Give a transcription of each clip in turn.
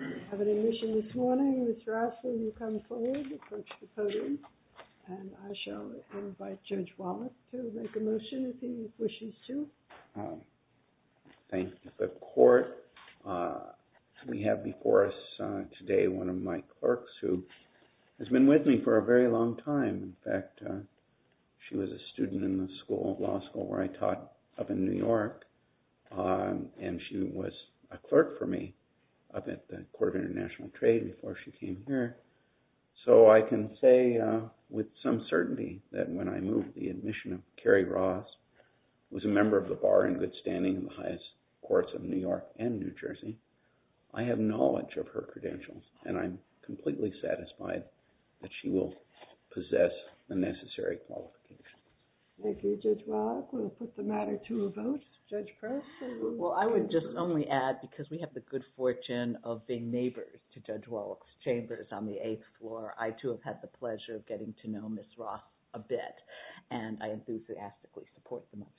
I have an admission this morning. Mr. Osler, you come forward, approach the podium, and I shall invite Judge Wallace to make a motion, if he wishes to. Thank the court. We have before us today one of my clerks, who has been with me for a very long time. In fact, she was a student in the law school where I taught up in New York, and she was a clerk for me up at the Court of International Trade before she came here. So I can say with some certainty that when I move the admission of Carrie Ross, who was a member of the bar in good standing in the highest courts of New York and New Jersey, I have knowledge of her credentials, and I'm completely satisfied that she will possess the necessary qualifications. Thank you, Judge Wallace. We'll put the matter to a vote. Judge Press? Well, I would just only add, because we have the good fortune of being neighbors to Judge Wallace Chambers on the eighth floor, I, too, have had the pleasure of getting to know Ms. Ross a bit, and I enthusiastically support the motion.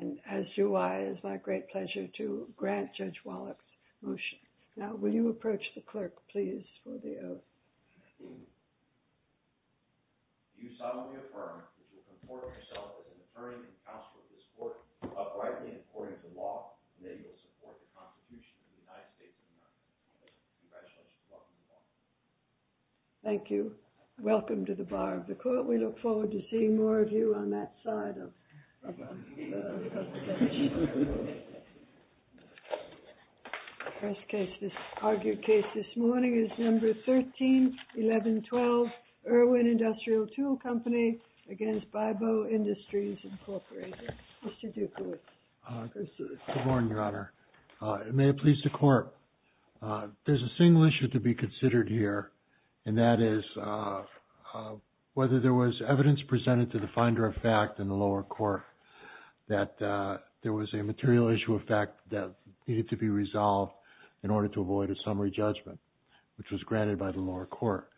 And as do I, it is my great pleasure to grant Judge Wallace's motion. Now, will you approach the clerk, please, for the oath? I do solemnly affirm that you will comport yourself as an attorney and counsel to this court, uprightly and according to law, and that you will support the Constitution of the United States of America. Thank you. Welcome to the Bar of the Court. We look forward to seeing more of you on that side of the Constitution. The first case, this argued case this morning, is number 131112, Irwin Industrial Tool Company against Baibo Industries Incorporated. Mr. Dukowitz. Good morning, Your Honor. May it please the Court, there's a single issue to be considered here, and that is whether there was evidence presented to the finder of fact in the lower court that there was a material issue of fact that needed to be resolved in order to avoid a summary judgment, which was granted by the lower court.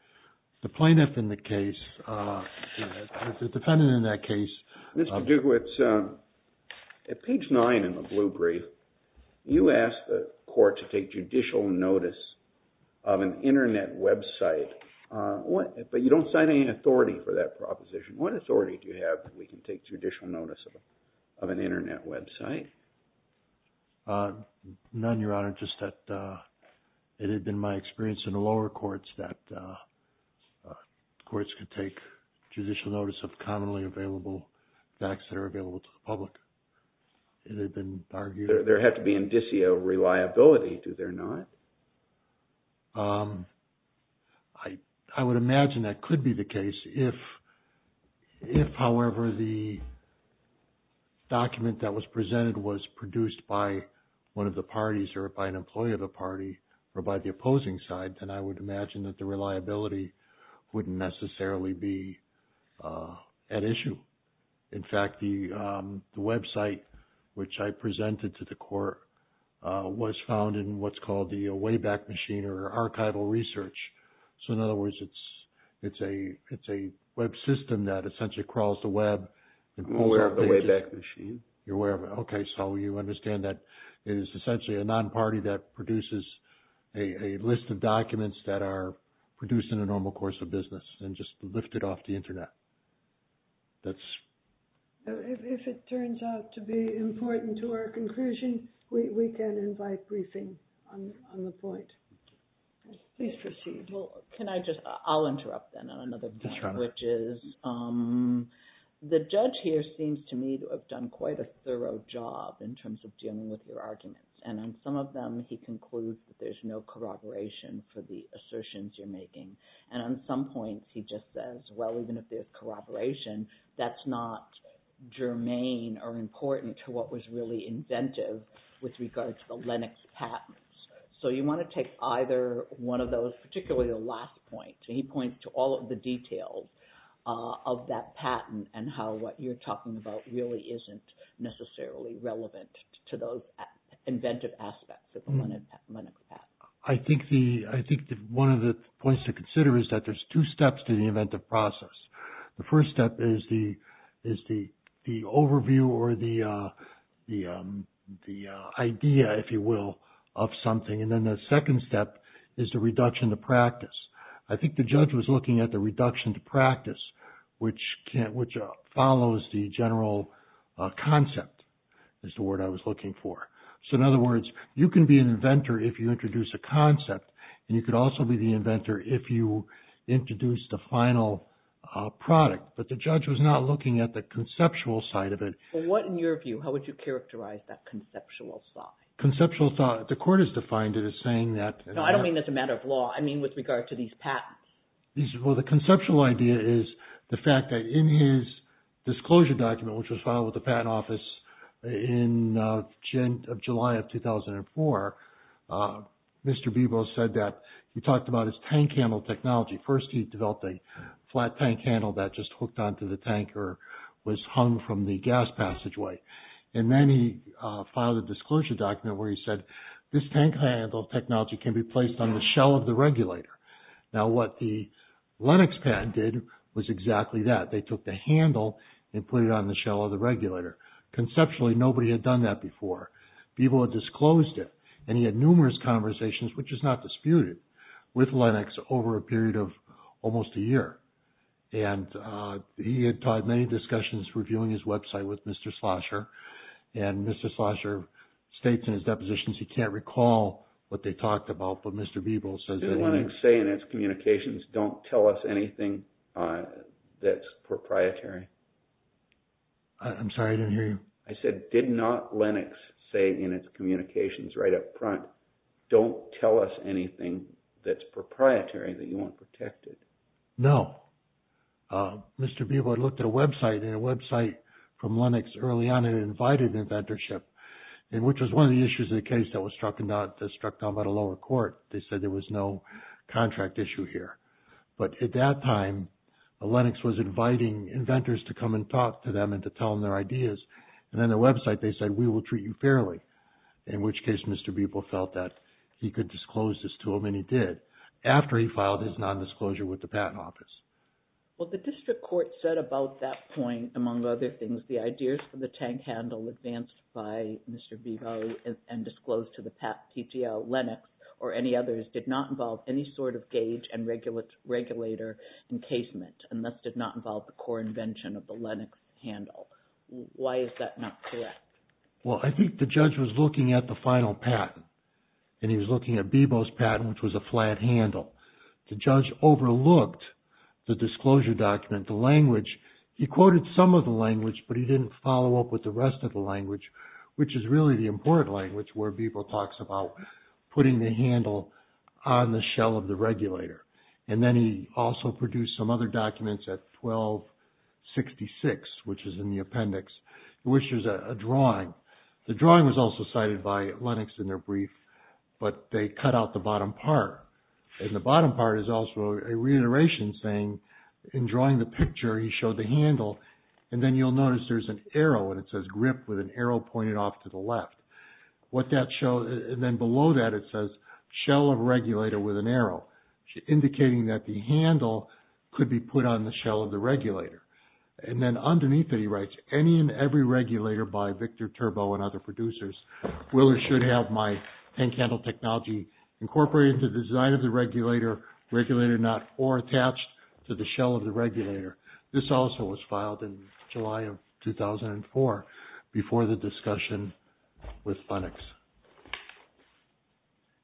The plaintiff in the case, the defendant in that case. Mr. Dukowitz, at page 9 in the blue brief, you asked the court to take judicial notice of an Internet website, but you don't cite any authority for that proposition. What authority do you have that we can take judicial notice of an Internet website? None, Your Honor, just that it had been my experience in the lower courts that courts could take judicial notice of commonly available facts that are available to the public. It had been argued. There had to be indicia of reliability, do there not? I would imagine that could be the case if, however, the document that was presented was produced by one of the parties or by an employee of the party or by the opposing side, then I would imagine that the reliability wouldn't necessarily be at issue. In fact, the website which I presented to the court was found in what's called the Wayback Machine or archival research. So, in other words, it's a web system that essentially crawls the web. You're aware of it. Okay, so you understand that it is essentially a non-party that produces a list of documents that are produced in a normal course of business and just lifted off the Internet. If it turns out to be important to our conclusion, we can invite briefing on the point. Please proceed. Can I just, I'll interrupt then on another point, which is the judge here seems to me to have done quite a thorough job in terms of dealing with your arguments. And on some of them he concludes that there's no corroboration for the assertions you're making. And on some points he just says, well, even if there's corroboration, that's not germane or important to what was really inventive with regard to the Lennox patents. So, you want to take either one of those, particularly the last point. He points to all of the details of that patent and how what you're talking about really isn't necessarily relevant to those inventive aspects of the Lennox patent. I think one of the points to consider is that there's two steps to the inventive process. The first step is the overview or the idea, if you will, of something. And then the second step is the reduction to practice. I think the judge was looking at the reduction to practice, which follows the general concept is the word I was looking for. So, in other words, you can be an inventor if you introduce a concept, and you could also be the inventor if you introduce the final product. But the judge was not looking at the conceptual side of it. What, in your view, how would you characterize that conceptual thought? Conceptual thought, the court has defined it as saying that. No, I don't mean as a matter of law. I mean with regard to these patents. Well, the conceptual idea is the fact that in his disclosure document, which was filed with the patent office in July of 2004, Mr. Bebo said that he talked about his tank handle technology. First, he developed a flat tank handle that just hooked onto the tank or was hung from the gas passageway. And then he filed a disclosure document where he said this tank handle technology can be placed on the shell of the regulator. Now, what the Lenox patent did was exactly that. They took the handle and put it on the shell of the regulator. Conceptually, nobody had done that before. Bebo had disclosed it, and he had numerous conversations, which is not disputed, with Lenox over a period of almost a year. And he had many discussions reviewing his website with Mr. Slosher. And Mr. Slosher states in his depositions he can't recall what they talked about, but Mr. Bebo says that he did. Did Lenox say in its communications, don't tell us anything that's proprietary? I'm sorry, I didn't hear you. I said, did not Lenox say in its communications right up front, don't tell us anything that's proprietary that you want protected? No. Mr. Bebo had looked at a website, and a website from Lenox early on had invited inventorship, which was one of the issues of the case that was struck down by the lower court. They said there was no contract issue here. But at that time, Lenox was inviting inventors to come and talk to them and to tell them their ideas. And on their website, they said, we will treat you fairly, in which case Mr. Bebo felt that he could disclose this to them, and he did, after he filed his nondisclosure with the Patent Office. Well, the district court said about that point, among other things, the ideas for the tank handle advanced by Mr. Bebo and disclosed to the Patent Office, Lenox, or any others, did not involve any sort of gauge and regulator encasement, and thus did not involve the core invention of the Lenox handle. Why is that not correct? Well, I think the judge was looking at the final patent, and he was looking at Bebo's patent, which was a flat handle. The judge overlooked the disclosure document, the language. He quoted some of the language, but he didn't follow up with the rest of the language, which is really the important language where Bebo talks about putting the handle on the shell of the regulator. And then he also produced some other documents at 1266, which is in the appendix, which is a drawing. The drawing was also cited by Lenox in their brief, but they cut out the bottom part. And the bottom part is also a reiteration saying, in drawing the picture, he showed the handle, and then you'll notice there's an arrow, and it says grip with an arrow pointed off to the left. What that shows, and then below that, it says shell of regulator with an arrow, indicating that the handle could be put on the shell of the regulator. And then underneath it, he writes, any and every regulator by Victor Turbo and other producers will or should have my hand-handled technology incorporated into the design of the regulator, regulated or not, or attached to the shell of the regulator. This also was filed in July of 2004 before the discussion with Lenox.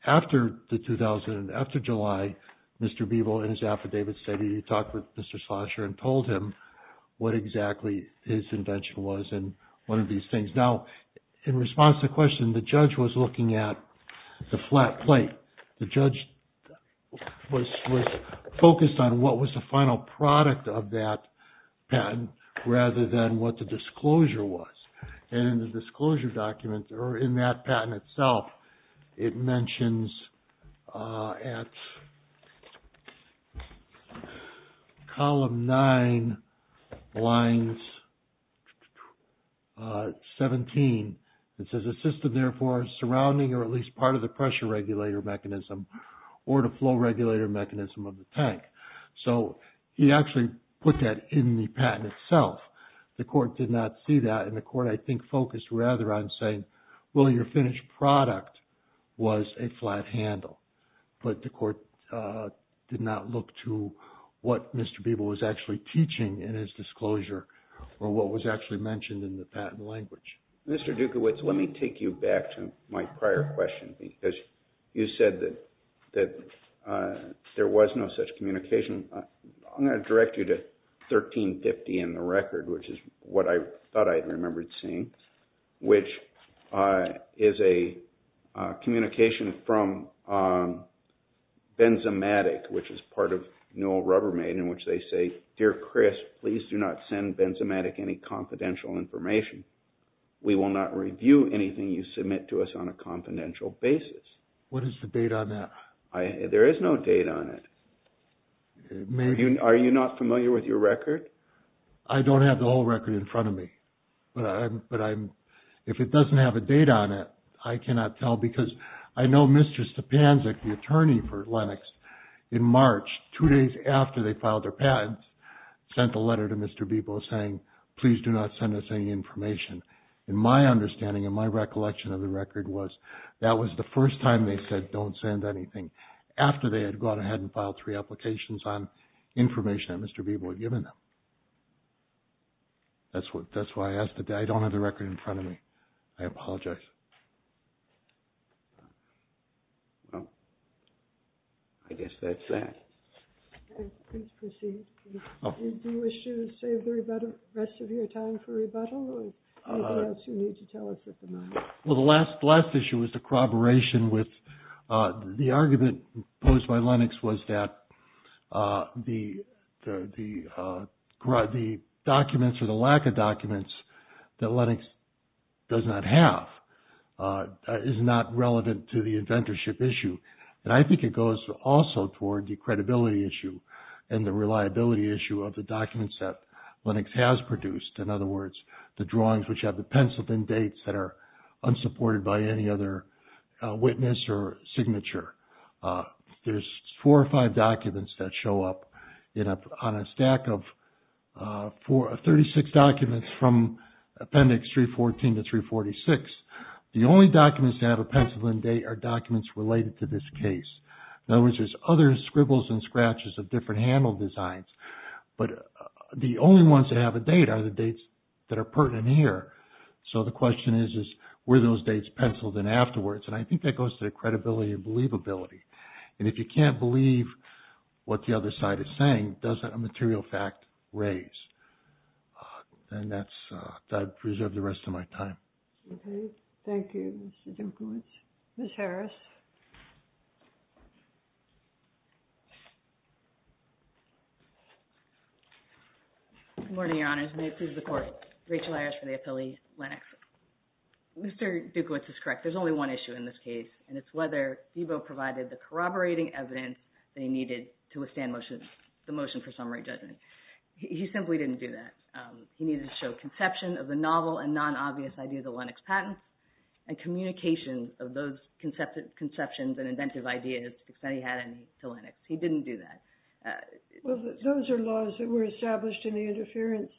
After July, Mr. Bebo, in his affidavit, said he talked with Mr. Schlosser and told him what exactly his invention was and one of these things. Now, in response to the question, the judge was looking at the flat plate. The judge was focused on what was the final product of that patent rather than what the disclosure was. And in the disclosure document, or in that patent itself, it mentions at column 9, lines 17, it says, or at least part of the pressure regulator mechanism or the flow regulator mechanism of the tank. So, he actually put that in the patent itself. The court did not see that and the court, I think, focused rather on saying, well, your finished product was a flat handle. But the court did not look to what Mr. Bebo was actually teaching in his disclosure or what was actually mentioned in the patent language. Mr. Dukowicz, let me take you back to my prior question because you said that there was no such communication. I'm going to direct you to 1350 in the record, which is what I thought I'd remembered seeing, which is a communication from Benzamatic, which is part of Newell Rubbermaid, in which they say, Dear Chris, please do not send Benzamatic any confidential information. We will not review anything you submit to us on a confidential basis. What is the date on that? There is no date on it. Are you not familiar with your record? I don't have the whole record in front of me, but if it doesn't have a date on it, I cannot tell. Because I know Mr. Stepanczyk, the attorney for Lenox, in March, two days after they filed their patents, sent a letter to Mr. Bebo saying, please do not send us any information. And my understanding and my recollection of the record was that was the first time they said don't send anything after they had gone ahead and filed three applications on information that Mr. Bebo had given them. That's why I asked. I don't have the record in front of me. I apologize. Well, I guess that's that. Please proceed. Do you wish to save the rest of your time for rebuttal, or is there anything else you need to tell us at the moment? Well, the last issue was the corroboration with the argument posed by Lenox was that the documents or the lack of documents that Lenox does not have is not relevant to the inventorship issue. And I think it goes also toward the credibility issue and the reliability issue of the documents that Lenox has produced. In other words, the drawings which have the pencil and dates that are unsupported by any other witness or signature. There's four or five documents that show up on a stack of 36 documents from Appendix 314 to 346. The only documents that have a pencil and date are documents related to this case. In other words, there's other scribbles and scratches of different handle designs. But the only ones that have a date are the dates that are pertinent here. So the question is, were those dates penciled in afterwards? And I think that goes to the credibility and believability. And if you can't believe what the other side is saying, does that material fact raise? And that's reserved the rest of my time. Okay. Thank you, Mr. Junkowicz. Ms. Harris. Good morning, Your Honors. May it please the Court. Rachel Ayers for the Affiliate Lenox. Mr. Junkowicz is correct. There's only one issue in this case, and it's whether Thiebaud provided the corroborating evidence that he needed to withstand the motion for summary judgment. He simply didn't do that. He needed to show conception of the novel and non-obvious ideas of Lenox patents and communication of those conceptions and inventive ideas that he had to Lenox. He didn't do that. Well, those are laws that were established in the interference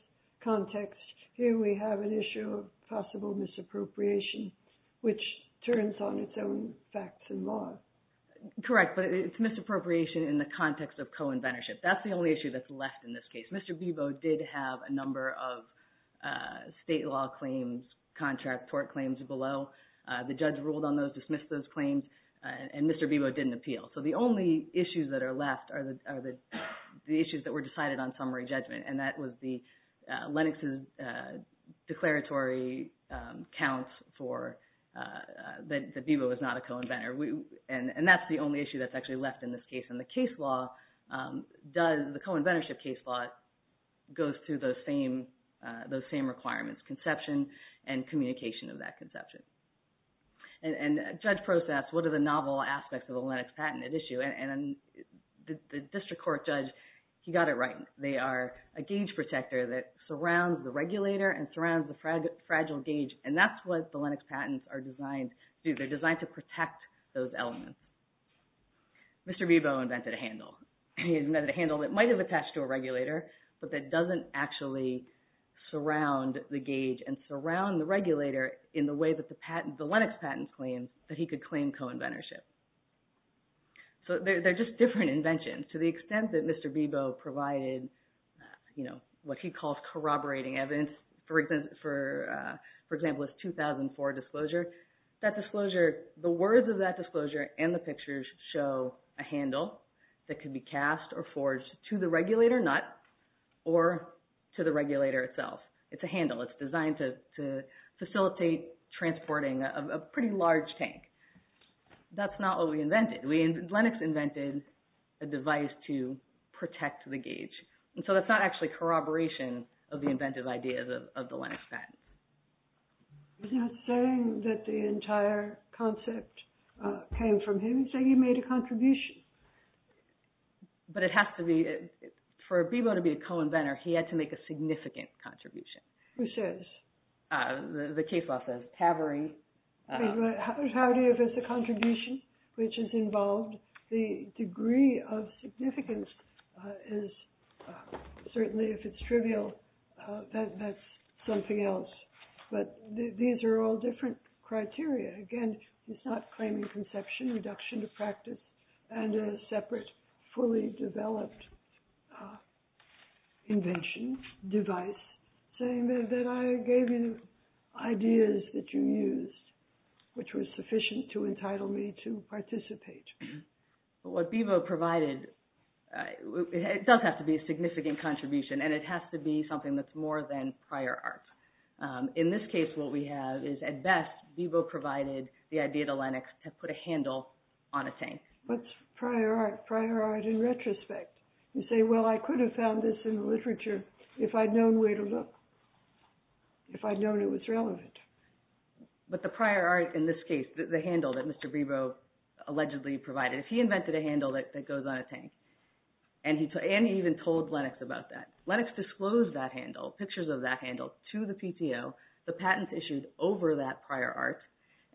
context. Here we have an issue of possible misappropriation, which turns on its own facts and laws. Correct, but it's misappropriation in the context of co-inventorship. That's the only issue that's left in this case. Mr. Thiebaud did have a number of state law claims, contract tort claims below. The judge ruled on those, dismissed those claims, and Mr. Thiebaud didn't appeal. So the only issues that are left are the issues that were decided on summary judgment, and that was Lenox's declaratory counts for that Thiebaud was not a co-inventor. And that's the only issue that's actually left in this case. The co-inventorship case law goes through those same requirements, conception and communication of that conception. And judge process, what are the novel aspects of the Lenox patent at issue? And the district court judge, he got it right. They are a gauge protector that surrounds the regulator and surrounds the fragile gauge, and that's what the Lenox patents are designed to do. They're designed to protect those elements. Mr. Thiebaud invented a handle. He invented a handle that might have attached to a regulator, but that doesn't actually surround the gauge and surround the regulator in the way that the Lenox patents claim that he could claim co-inventorship. So they're just different inventions to the extent that Mr. Thiebaud provided what he calls corroborating evidence. For example, his 2004 disclosure. The words of that disclosure and the pictures show a handle that could be cast or forged to the regulator nut or to the regulator itself. It's a handle. It's designed to facilitate transporting a pretty large tank. That's not what we invented. Lenox invented a device to protect the gauge. And so that's not actually corroboration of the inventive ideas of the Lenox patent. He's not saying that the entire concept came from him. He's saying he made a contribution. But it has to be. For Thiebaud to be a co-inventor, he had to make a significant contribution. Who says? The case law says Havering. Havering is a contribution which is involved. The degree of significance is certainly, if it's trivial, that's something else. But these are all different criteria. Again, he's not claiming conception, reduction to practice, and a separate fully developed invention, device, saying that I gave you ideas that you used, which was sufficient to entitle me to participate. But what Thiebaud provided, it does have to be a significant contribution, and it has to be something that's more than prior art. In this case, what we have is, at best, Thiebaud provided the idea to Lenox to put a handle on a tank. What's prior art? Prior art in retrospect. You say, well, I could have found this in the literature if I'd known where to look, if I'd known it was relevant. But the prior art in this case, the handle that Mr. Thiebaud allegedly provided, he invented a handle that goes on a tank. And he even told Lenox about that. Lenox disclosed that handle, pictures of that handle, to the PTO. The patents issued over that prior art.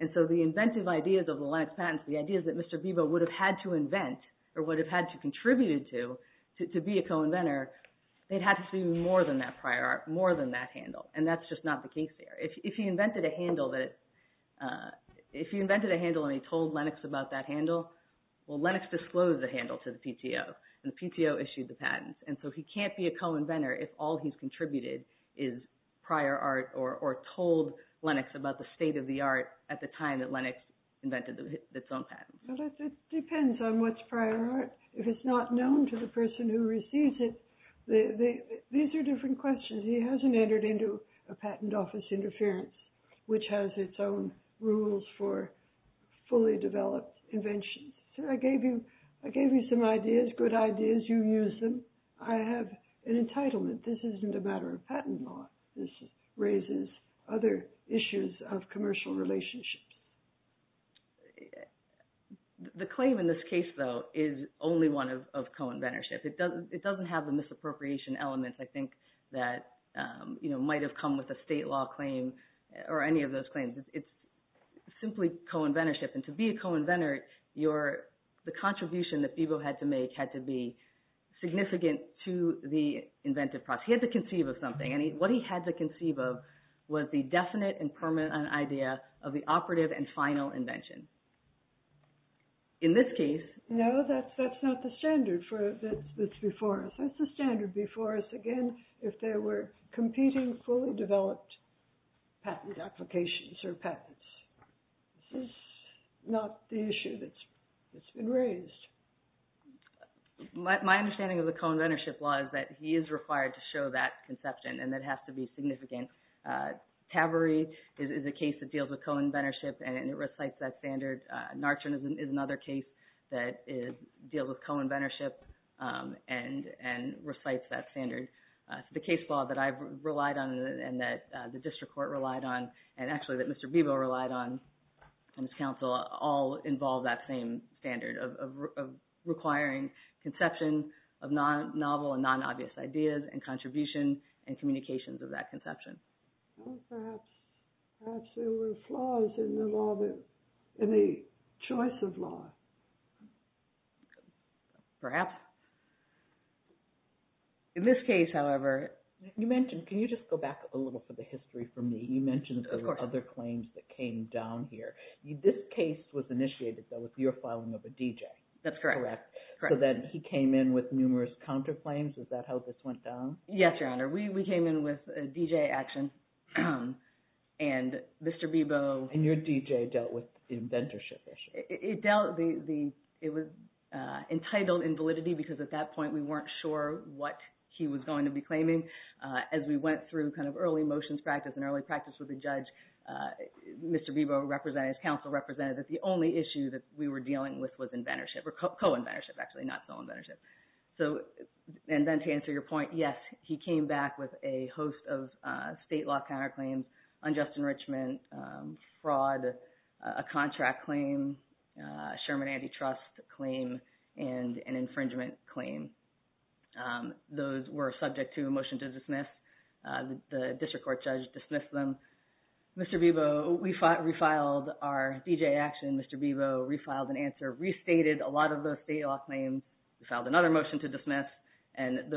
And so the inventive ideas of the Lenox patents, the ideas that Mr. Thiebaud would have had to invent or would have had to contribute to, to be a co-inventor, they'd have to see more than that prior art, more than that handle. And that's just not the case there. If he invented a handle and he told Lenox about that handle, well, Lenox disclosed the handle to the PTO, and the PTO issued the patents. And so he can't be a co-inventor if all he's contributed is prior art or told Lenox about the state of the art at the time that Lenox invented its own patent. It depends on what's prior art. If it's not known to the person who receives it, these are different questions. He hasn't entered into a patent office interference, which has its own rules for fully developed inventions. I gave you some ideas, good ideas. You used them. I have an entitlement. This isn't a matter of patent law. This raises other issues of commercial relationships. The claim in this case, though, is only one of co-inventorship. It doesn't have the misappropriation elements, I think, that might have come with a state law claim or any of those claims. It's simply co-inventorship. And to be a co-inventor, the contribution that Bebo had to make had to be significant to the inventive process. He had to conceive of something, and what he had to conceive of was the definite and permanent idea of the operative and final invention. In this case, no, that's not the standard that's before us. That's the standard before us, again, if there were competing fully developed patent applications or patents. This is not the issue that's been raised. My understanding of the co-inventorship law is that he is required to show that conception, and that has to be significant. Taveree is a case that deals with co-inventorship, and it recites that standard. Narchen is another case that deals with co-inventorship and recites that standard. The case law that I've relied on and that the district court relied on, and actually that Mr. Bebo relied on, and his counsel, all involve that same standard of requiring conception of novel and non-obvious ideas and contribution and communications of that conception. Perhaps there were flaws in the choice of law. Perhaps. In this case, however – You mentioned – can you just go back a little for the history for me? Of course. You mentioned there were other claims that came down here. This case was initiated, though, with your filing of a DJ. That's correct. Correct. So then he came in with numerous counterclaims. Is that how this went down? Yes, Your Honor. We came in with a DJ action, and Mr. Bebo – And your DJ dealt with the inventorship issue. It was entitled in validity because at that point we weren't sure what he was going to be claiming. As we went through kind of early motions practice and early practice with the judge, Mr. Bebo represented, his counsel represented, that the only issue that we were dealing with was inventorship or co-inventorship, actually, not sole inventorship. And then to answer your point, yes, he came back with a host of state law counterclaims, unjust enrichment, fraud, a contract claim, Sherman antitrust claim, and an infringement claim. Those were subject to a motion to dismiss. The district court judge dismissed them. Mr. Bebo refiled our DJ action. Mr. Bebo refiled an answer, restated a lot of those state law claims. He filed another motion to dismiss, and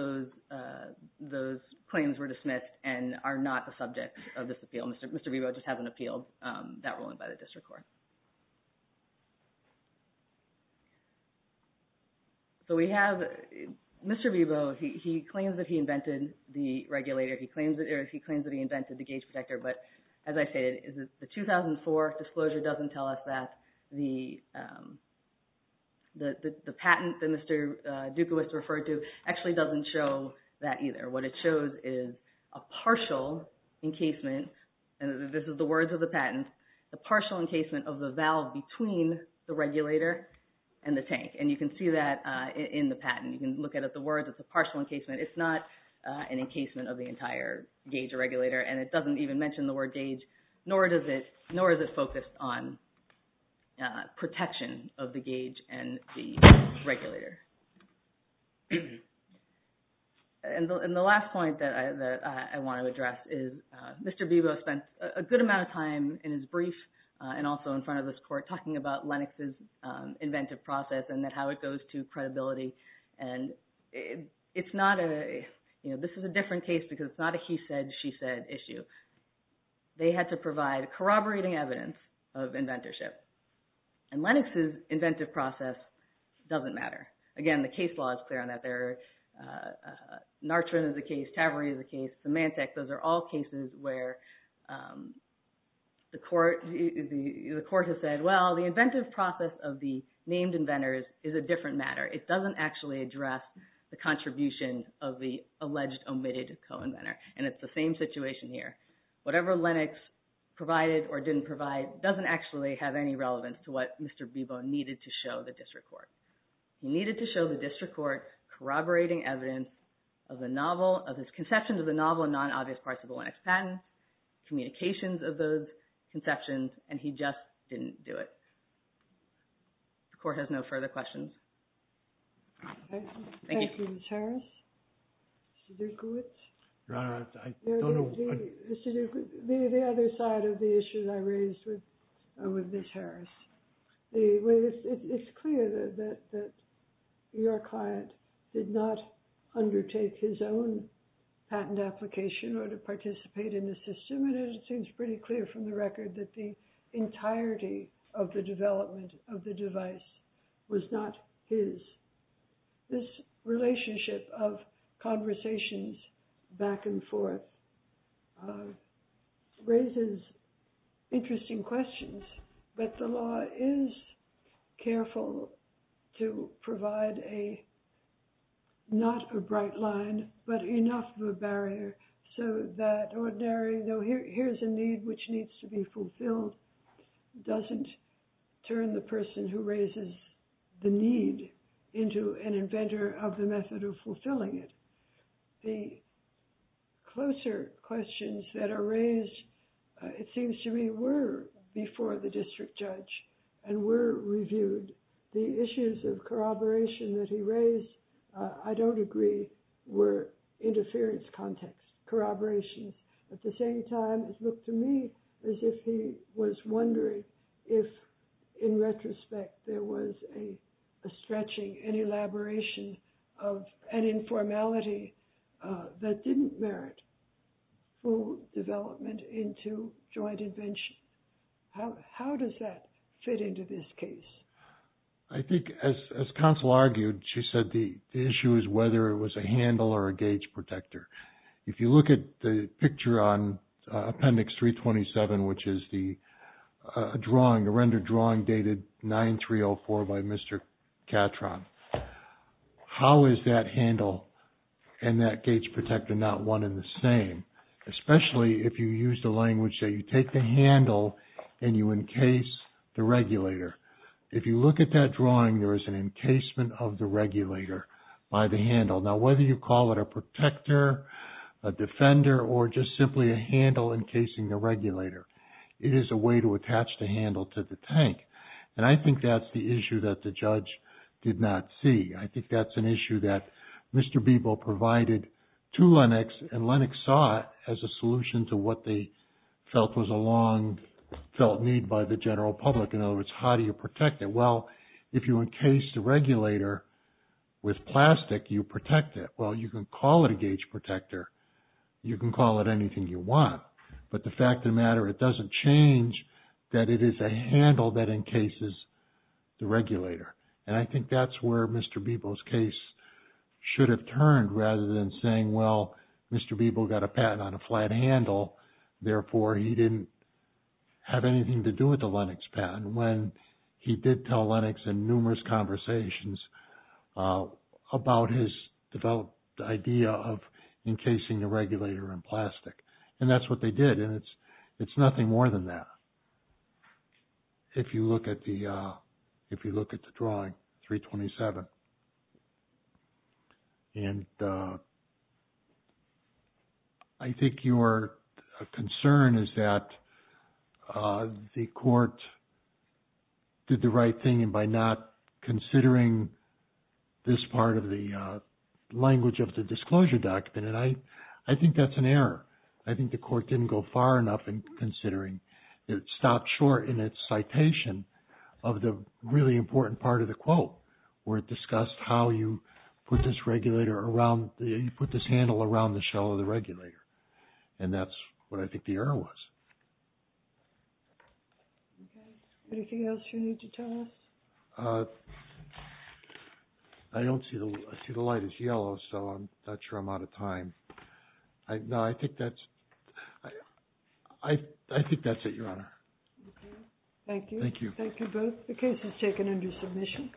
those claims were dismissed and are not the subject of this appeal. Mr. Bebo just hasn't appealed that ruling by the district court. So we have Mr. Bebo. He claims that he invented the regulator. He claims that he invented the gauge protector. But as I stated, the 2004 disclosure doesn't tell us that the patent that Mr. Dukowicz referred to actually doesn't show that either. What it shows is a partial encasement, and this is the words of the patent, a partial encasement of the valve between the regulator and the tank. And you can see that in the patent. You can look at the words. It's a partial encasement. It's not an encasement of the entire gauge regulator, and it doesn't even mention the word gauge, nor is it focused on protection of the gauge and the regulator. And the last point that I want to address is Mr. Bebo spent a good amount of time in his brief and also in front of this court talking about Lennox's inventive process and how it goes to credibility. And this is a different case because it's not a he said, she said issue. They had to provide corroborating evidence of inventorship, and Lennox's inventive process doesn't matter. Again, the case law is clear on that. Narchman is a case. Taveri is a case. Symantec, those are all cases where the court has said, well, the inventive process of the named inventors is a different matter. It doesn't actually address the contribution of the alleged omitted co-inventor. And it's the same situation here. Whatever Lennox provided or didn't provide doesn't actually have any relevance to what Mr. Bebo needed to show the district court. He needed to show the district court corroborating evidence of the novel, of his conception of the novel in non-obvious parts of the Lennox patent, communications of those conceptions, and he just didn't do it. The court has no further questions. Thank you. Thank you, Ms. Harris. Mr. Dukowitz? Your Honor, I don't know. Mr. Dukowitz, the other side of the issue that I raised with Ms. Harris. It's clear that your client did not undertake his own patent application or to participate in the system, and it seems pretty clear from the record that the entirety of the development of the device was not his. This relationship of conversations back and forth raises interesting questions, but the law is careful to provide a, not a bright line, but enough of a barrier so that ordinary, though here's a need which needs to be fulfilled, doesn't turn the person who raises the need. Into an inventor of the method of fulfilling it. The closer questions that are raised, it seems to me, were before the district judge and were reviewed. The issues of corroboration that he raised, I don't agree, were interference context, corroboration. At the same time, it looked to me as if he was wondering if, in retrospect, there was a stretching, an elaboration of an informality that didn't merit full development into joint invention. How does that fit into this case? I think, as counsel argued, she said the issue is whether it was a handle or a gauge protector. If you look at the picture on appendix 327, which is the drawing, the rendered drawing dated 9304 by Mr. Catron, how is that handle and that gauge protector not one and the same? Especially if you use the language that you take the handle and you encase the regulator. If you look at that drawing, there is an encasement of the regulator by the handle. Now, whether you call it a protector, a defender, or just simply a handle encasing the regulator, it is a way to attach the handle to the tank. And I think that's the issue that the judge did not see. I think that's an issue that Mr. Beeble provided to Lennox, and Lennox saw it as a solution to what they felt was a long-felt need by the general public. In other words, how do you protect it? Well, if you encase the regulator with plastic, you protect it. Well, you can call it a gauge protector. You can call it anything you want. But the fact of the matter, it doesn't change that it is a handle that encases the regulator. And I think that's where Mr. Beeble's case should have turned rather than saying, well, Mr. Beeble got a patent on a flat handle. Therefore, he didn't have anything to do with the Lennox patent. And when he did tell Lennox in numerous conversations about his developed idea of encasing the regulator in plastic, and that's what they did. And it's nothing more than that, if you look at the drawing, 327. And I think your concern is that the court did the right thing by not considering this part of the language of the disclosure document. And I think that's an error. I think the court didn't go far enough in considering. It stopped short in its citation of the really important part of the quote, where it discussed how you put this regulator around – you put this handle around the shell of the regulator. And that's what I think the error was. Anything else you need to tell us? I don't see the – I see the light is yellow, so I'm not sure I'm out of time. No, I think that's – I think that's it, Your Honor. Okay. Thank you. Thank you. Thank you both. The case is taken under submission.